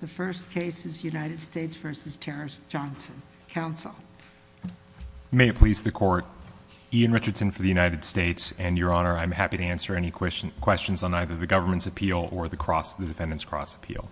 The first case is United States v. Terrace Johnson. Counsel. May it please the Court. Ian Richardson for the United States, and Your Honor, I'm happy to answer any questions on either the government's appeal or the defendant's cross-appeal.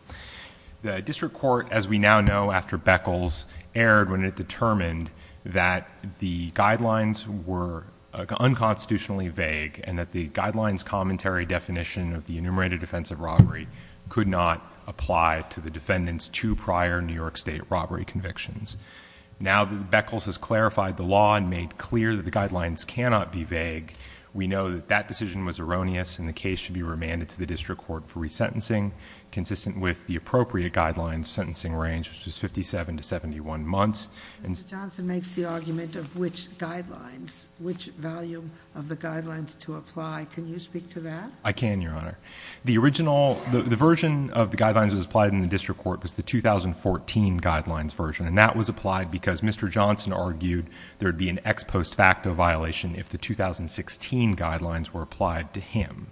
The district court, as we now know after Beckles, erred when it determined that the guidelines were unconstitutionally vague and that the guidelines commentary definition of the enumerated offense of robbery could not apply to the defendant's two prior New York State robbery convictions. Now that Beckles has clarified the law and made clear that the guidelines cannot be vague, we know that that decision was erroneous and the case should be remanded to the district court for resentencing, consistent with the appropriate guidelines sentencing range, which was 57 to 71 months. Mr. Johnson makes the argument of which guidelines, which value of the guidelines to apply. Can you speak to that? I can, Your Honor. The original, the version of the guidelines that was applied in the district court was the 2014 guidelines version, and that was applied because Mr. Johnson argued there would be an ex post facto violation if the 2016 guidelines were applied to him.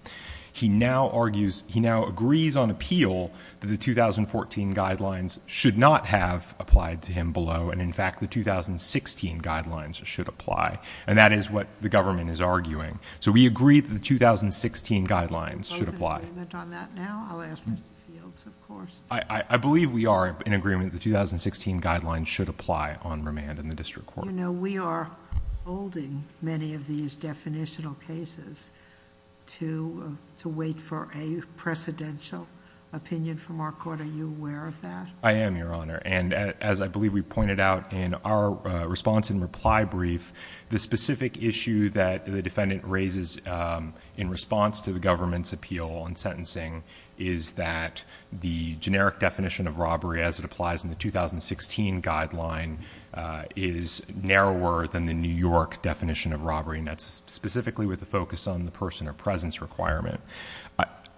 He now argues, he now agrees on appeal that the 2014 guidelines should not have applied to him below, and in fact the 2016 guidelines should apply. And that is what the government is arguing. So we agree that the 2016 guidelines should apply. Are you both in agreement on that now? I'll ask Mr. Fields, of course. I believe we are in agreement that the 2016 guidelines should apply on remand in the district court. You know, we are holding many of these definitional cases to wait for a precedential opinion from our court. Are you aware of that? I am, Your Honor. And as I believe we pointed out in our response and reply brief, the specific issue that the defendant raises in response to the government's appeal on sentencing is that the generic definition of robbery as it applies in the 2016 guideline is narrower than the New York definition of robbery, and that's specifically with a focus on the person or presence requirement.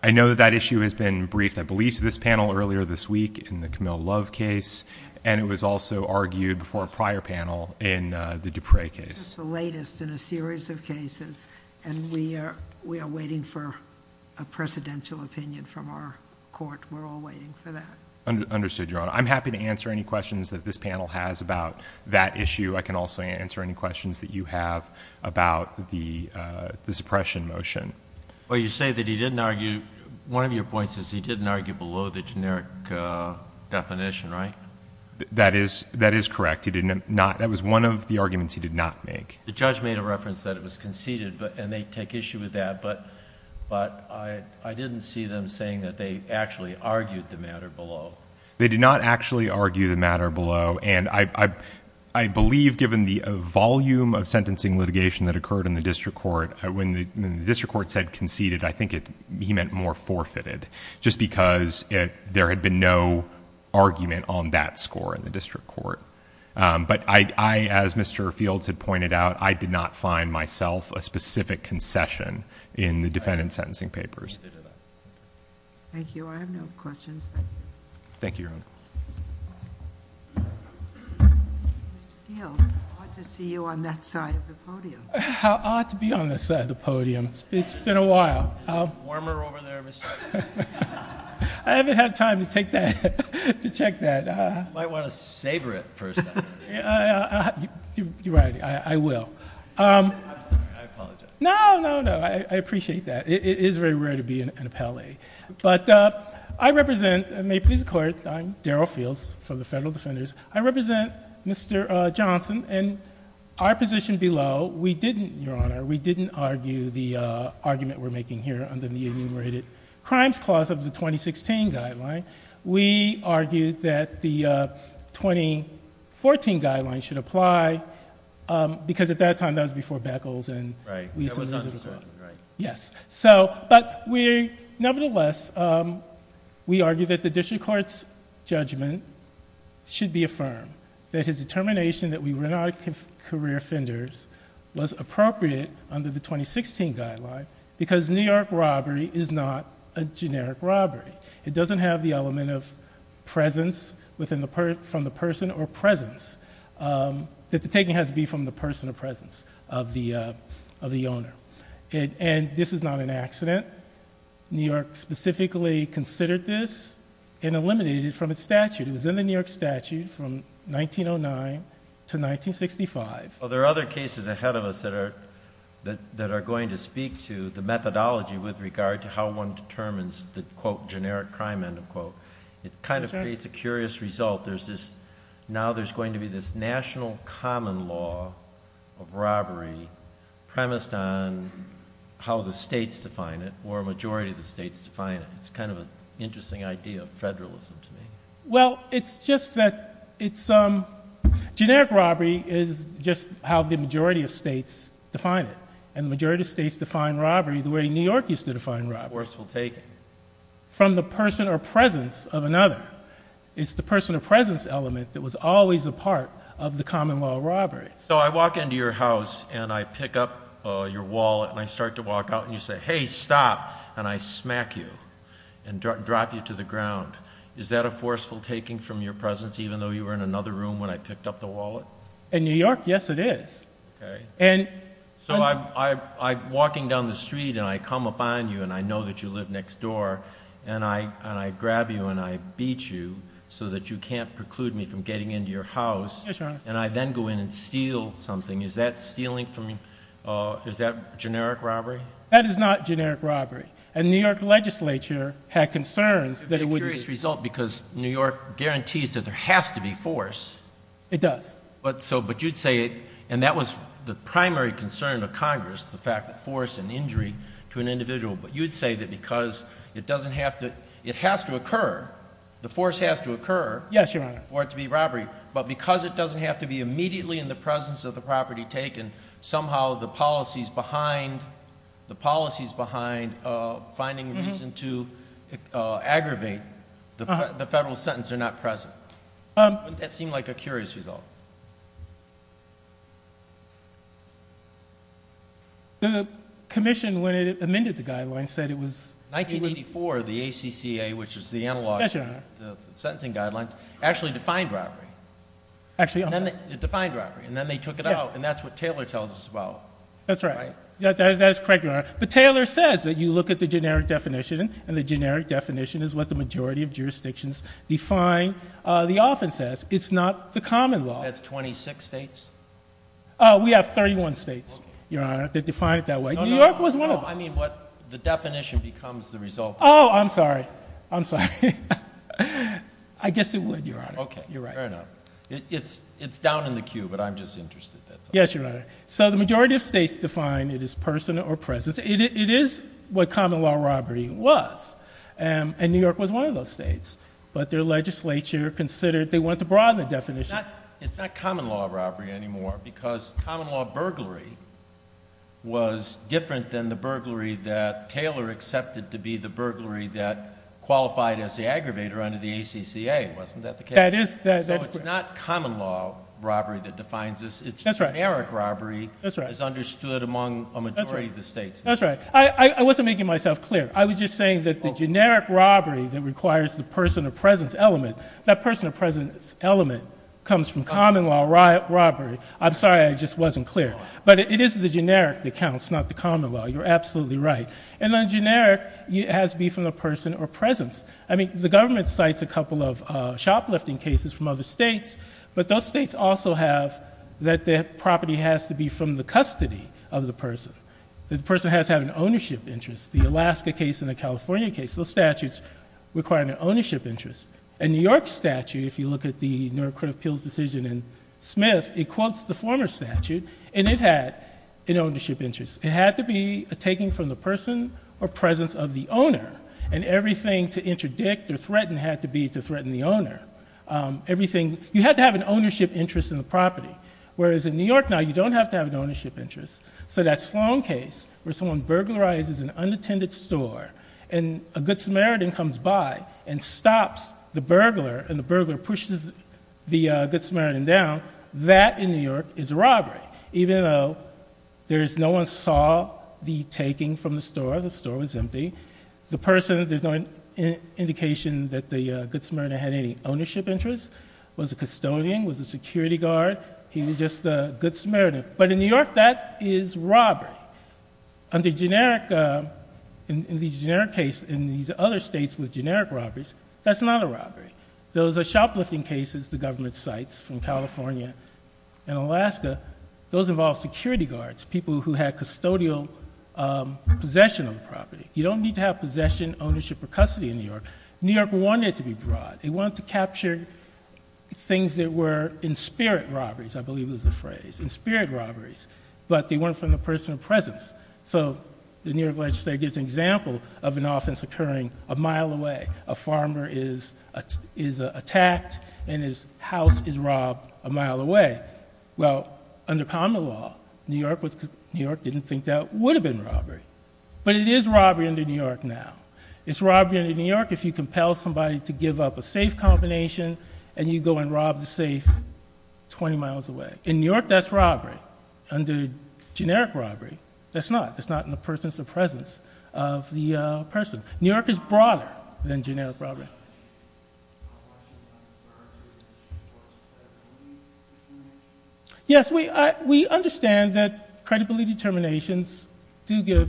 I know that that issue has been briefed, I believe, to this panel earlier this week in the Camille Love case, and it was also argued before a prior panel in the Dupre case. It's the latest in a series of cases, and we are waiting for a precedential opinion from our court. We're all waiting for that. Understood, Your Honor. I'm happy to answer any questions that this panel has about that issue. I can also answer any questions that you have about the suppression motion. Well, you say that he didn't argue—one of your points is he didn't argue below the generic definition, right? That is correct. He did not—that was one of the arguments he did not make. The judge made a reference that it was conceded, and they take issue with that, but I didn't see them saying that they actually argued the matter below. They did not actually argue the matter below, and I believe, given the volume of sentencing litigation that occurred in the district court, when the district court said conceded, I think he meant more forfeited, just because there had been no argument on that score in the district court. But I, as Mr. Fields had pointed out, I did not find myself a specific concession in the defendant's sentencing papers. Thank you. I have no questions. Thank you, Your Honor. Mr. Fields, it's odd to see you on that side of the podium. How odd to be on this side of the podium? It's been a while. Is it warmer over there, Mr. Fields? I haven't had time to take that—to check that. You might want to savor it for a second. You're right. I will. I'm sorry. I apologize. No, no, no. I appreciate that. It is very rare to be in a palais. But I represent—and may it please the Court—I'm Daryl Fields from the Federal Defenders. I represent Mr. Johnson, and our position below, we didn't, Your Honor, we didn't argue the argument we're making here under the Enumerated Crimes Clause of the 2016 Guideline. We argued that the 2014 Guideline should apply, because at that time, that was before Beckles and— Right. That was undecided, right. Yes. So—but we—nevertheless, we argued that the district court's judgment should be affirmed, that his determination that we were not career offenders was appropriate under the 2016 Guideline, because New York robbery is not a generic robbery. It doesn't have the element of presence from the person or presence—that the taking has to be from the person or presence of the owner. And this is not an accident. New York specifically considered this and eliminated it from its statute. It was in the New York statute from 1909 to 1965. Well, there are other cases ahead of us that are going to speak to the methodology with regard to how one determines the, quote, generic crime, end of quote. It kind of creates a curious result. There's this—now there's going to be this national common law of robbery premised on how the states define it or a majority of the states define it. It's kind of an interesting idea of federalism to me. Well, it's just that it's—generic robbery is just how the majority of states define it, and the majority of states define robbery the way New York used to define robbery. Forceful taking. From the person or presence of another. It's the person or presence element that was always a part of the common law of robbery. So I walk into your house, and I pick up your wallet, and I start to walk out, and you say, and I smack you and drop you to the ground. Is that a forceful taking from your presence, even though you were in another room when I picked up the wallet? In New York, yes, it is. Okay. So I'm walking down the street, and I come upon you, and I know that you live next door, and I grab you and I beat you so that you can't preclude me from getting into your house. Yes, Your Honor. And I then go in and steal something. Is that stealing from—is that generic robbery? That is not generic robbery. And the New York legislature had concerns that it would— It would be a curious result because New York guarantees that there has to be force. It does. But you'd say it, and that was the primary concern of Congress, the fact that force and injury to an individual. But you'd say that because it doesn't have to—it has to occur, the force has to occur for it to be robbery. Yes, Your Honor. But because it doesn't have to be immediately in the presence of the property taken, somehow the policies behind finding reason to aggravate the federal sentence are not present. Wouldn't that seem like a curious result? The commission, when it amended the guidelines, said it was— 1984, the ACCA, which is the analog of the sentencing guidelines, actually defined robbery. Actually also— It defined robbery, and then they took it out, and that's what Taylor tells us about. That's right. That is correct, Your Honor. But Taylor says that you look at the generic definition, and the generic definition is what the majority of jurisdictions define. The offense says it's not the common law. That's 26 states? We have 31 states, Your Honor, that define it that way. New York was one of them. No, I mean what the definition becomes the result. Oh, I'm sorry. I'm sorry. I guess it would, Your Honor. Okay. You're right. Fair enough. It's down in the queue, but I'm just interested. Yes, Your Honor. So the majority of states define it as person or presence. It is what common law robbery was, and New York was one of those states. But their legislature considered they wanted to broaden the definition. It's not common law robbery anymore, because common law burglary was different than the burglary that Taylor accepted to be the burglary that qualified as the aggravator under the ACCA. Wasn't that the case? That is. So it's not common law robbery that defines this. It's generic robbery as understood among a majority of the states. That's right. I wasn't making myself clear. I was just saying that the generic robbery that requires the person or presence element comes from common law robbery. I'm sorry. I just wasn't clear. But it is the generic that counts, not the common law. You're absolutely right. And then generic has to be from the person or presence. I mean, the government cites a couple of shoplifting cases from other states, but those states also have that the property has to be from the custody of the person. The person has to have an ownership interest. The Alaska case and the California case, those statutes require an ownership interest. A New York statute, if you look at the Neurocritical Appeals Decision in Smith, it quotes the former statute, and it had an ownership interest. It had to be a taking from the person or presence of the owner, and everything to interdict or threaten had to be to threaten the owner. You had to have an ownership interest in the property, whereas in New York now, you don't have to have an ownership interest. So that Sloan case where someone burglarizes an unattended store, and a Good Samaritan comes by and stops the burglar, and the burglar pushes the Good Samaritan down, that in New York is a robbery, even though no one saw the taking from the store. The store was empty. The person, there's no indication that the Good Samaritan had any ownership interest, was a custodian, was a security guard. He was just a Good Samaritan. But in New York, that is robbery. And the generic case in these other states with generic robberies, that's not a robbery. Those shoplifting cases the government cites from California and Alaska, those involve security guards, people who had custodial possession of the property. You don't need to have possession, ownership, or custody in New York. New York wanted it to be broad. It wanted to capture things that were in spirit robberies, I believe was the phrase, in spirit robberies, but they weren't from the person of presence. So the New York legislature gives an example of an offense occurring a mile away. A farmer is attacked, and his house is robbed a mile away. Well, under common law, New York didn't think that would have been robbery. But it is robbery under New York now. It's robbery under New York if you compel somebody to give up a safe combination, and you go and rob the safe 20 miles away. In New York, that's robbery. Under generic robbery, that's not. It's not in the person's presence of the person. New York is broader than generic robbery. Yes, we understand that credibility determinations do get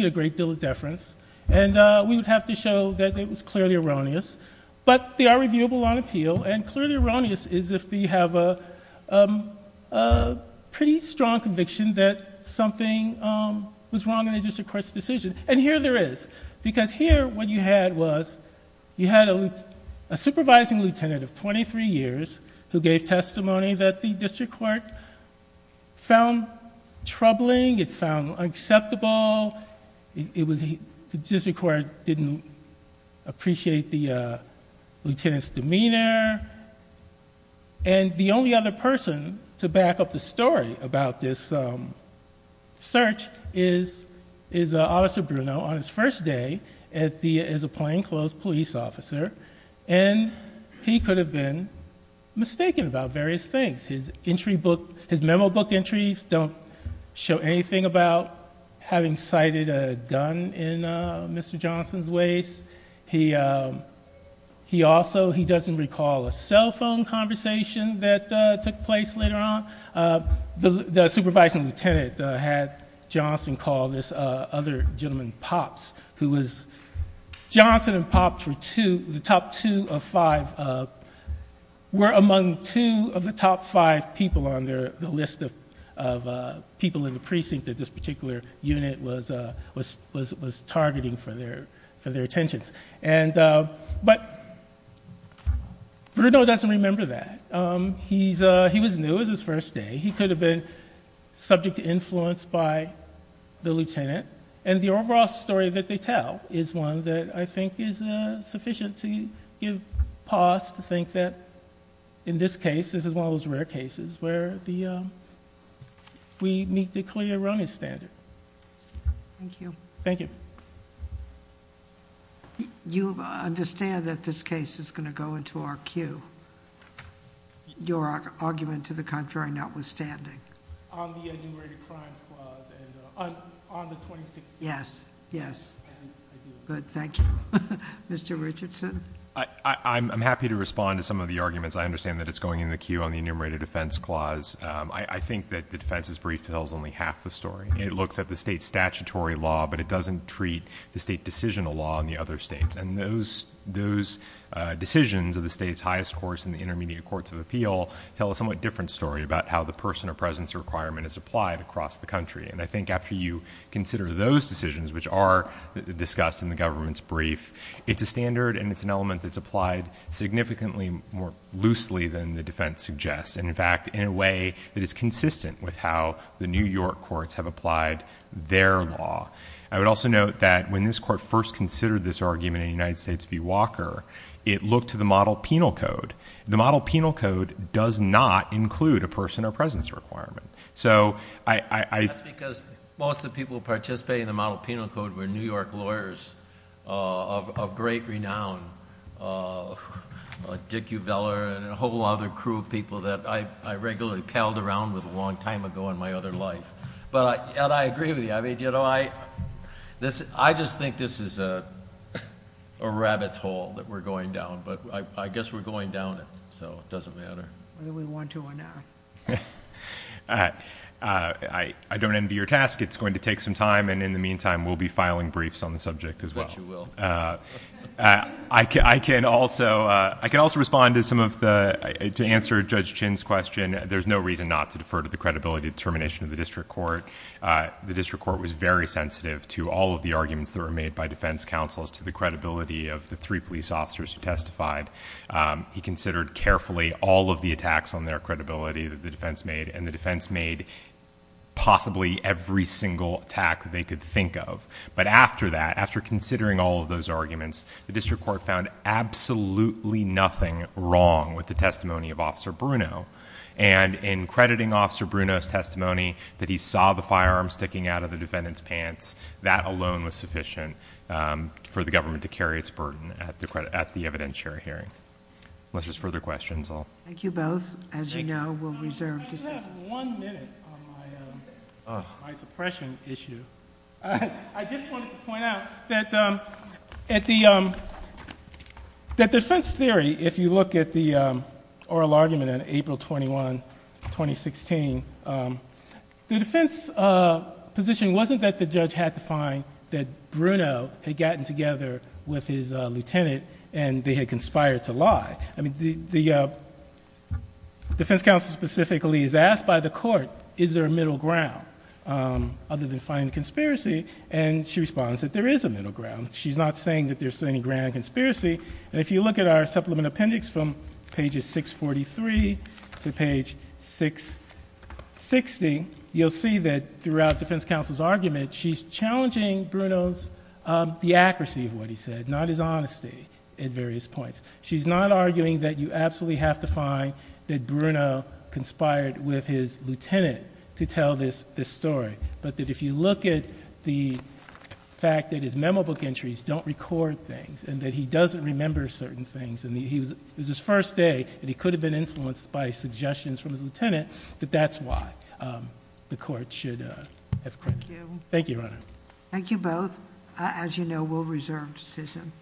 a great deal of deference, and we would have to show that it was clearly erroneous. But they are reviewable on appeal, and clearly erroneous is if they have a pretty strong conviction that something was wrong in a district court's decision. And here there is, because here what you had was you had a supervising lieutenant of 23 years who gave testimony that the district court found troubling. It found unacceptable. The district court didn't appreciate the lieutenant's demeanor. And the only other person to back up the story about this search is Officer Bruno on his first day as a plainclothes police officer, and he could have been mistaken about various things. His entry book, his memo book entries don't show anything about having sighted a gun in Mr. Johnson's waist. He also, he doesn't recall a cell phone conversation that took place later on. The supervising lieutenant had Johnson call this other gentleman, Pops, who was, Johnson and Pops were two, the top two of five, were among two of the top five people on the list of people in the precinct that this particular unit was targeting for their attentions. But Bruno doesn't remember that. He was new. It was his first day. He could have been subject to influence by the lieutenant. And the overall story that they tell is one that I think is sufficient to give pause to think that in this case, this is one of those rare cases where we meet the clear running standard. Thank you. Thank you. You understand that this case is going to go into our queue. Your argument to the contrary notwithstanding. On the enumerated crimes clause and on the 2016. Yes, yes. I do. Good. Thank you. Mr. Richardson. I'm happy to respond to some of the arguments. I understand that it's going in the queue on the enumerated offense clause. I think that the defense's brief tells only half the story. It looks at the state statutory law, but it doesn't treat the state decisional law in the other states. And those decisions of the state's highest course in the intermediate courts of appeal tell a somewhat different story about how the person or presence requirement is applied across the country. And I think after you consider those decisions, which are discussed in the government's brief, it's a standard and it's an element that's applied significantly more loosely than the defense suggests. And, in fact, in a way that is consistent with how the New York courts have applied their law. I would also note that when this court first considered this argument in the United States v. Walker, it looked to the model penal code. The model penal code does not include a person or presence requirement. So I- That's because most of the people participating in the model penal code were New York lawyers of great renown. Dick Uveller and a whole other crew of people that I regularly paddled around with a long time ago in my other life. And I agree with you. I mean, you know, I just think this is a rabbit's hole that we're going down. But I guess we're going down it. So it doesn't matter. Whether we want to or not. I don't envy your task. It's going to take some time. And in the meantime, we'll be filing briefs on the subject as well. I bet you will. I can also respond to some of the- To answer Judge Chin's question, there's no reason not to defer to the credibility determination of the district court. The district court was very sensitive to all of the arguments that were made by defense counsels to the credibility of the three police officers who testified. He considered carefully all of the attacks on their credibility that the defense made. And the defense made possibly every single attack that they could think of. But after that, after considering all of those arguments, the district court found absolutely nothing wrong with the testimony of Officer Bruno. And in crediting Officer Bruno's testimony, that he saw the firearm sticking out of the defendant's pants, that alone was sufficient for the government to carry its burden at the evidentiary hearing. Unless there's further questions, I'll- Thank you both. As you know, we'll reserve- I just have one minute on my suppression issue. I just wanted to point out that at the- That defense theory, if you look at the oral argument on April 21, 2016, the defense position wasn't that the judge had to find that Bruno had gotten together with his lieutenant and they had conspired to lie. I mean, the defense counsel specifically is asked by the court, is there a middle ground other than finding a conspiracy? And she responds that there is a middle ground. She's not saying that there's any grand conspiracy. And if you look at our supplement appendix from pages 643 to page 660, you'll see that throughout defense counsel's argument, she's challenging Bruno's- the accuracy of what he said, not his honesty at various points. She's not arguing that you absolutely have to find that Bruno conspired with his lieutenant to tell this story, but that if you look at the fact that his memo book entries don't record things and that he doesn't remember certain things and it was his first day and he could have been influenced by suggestions from his lieutenant, that that's why the court should have credit. Thank you. Thank you, Your Honor. Thank you both. As you know, we'll reserve decision.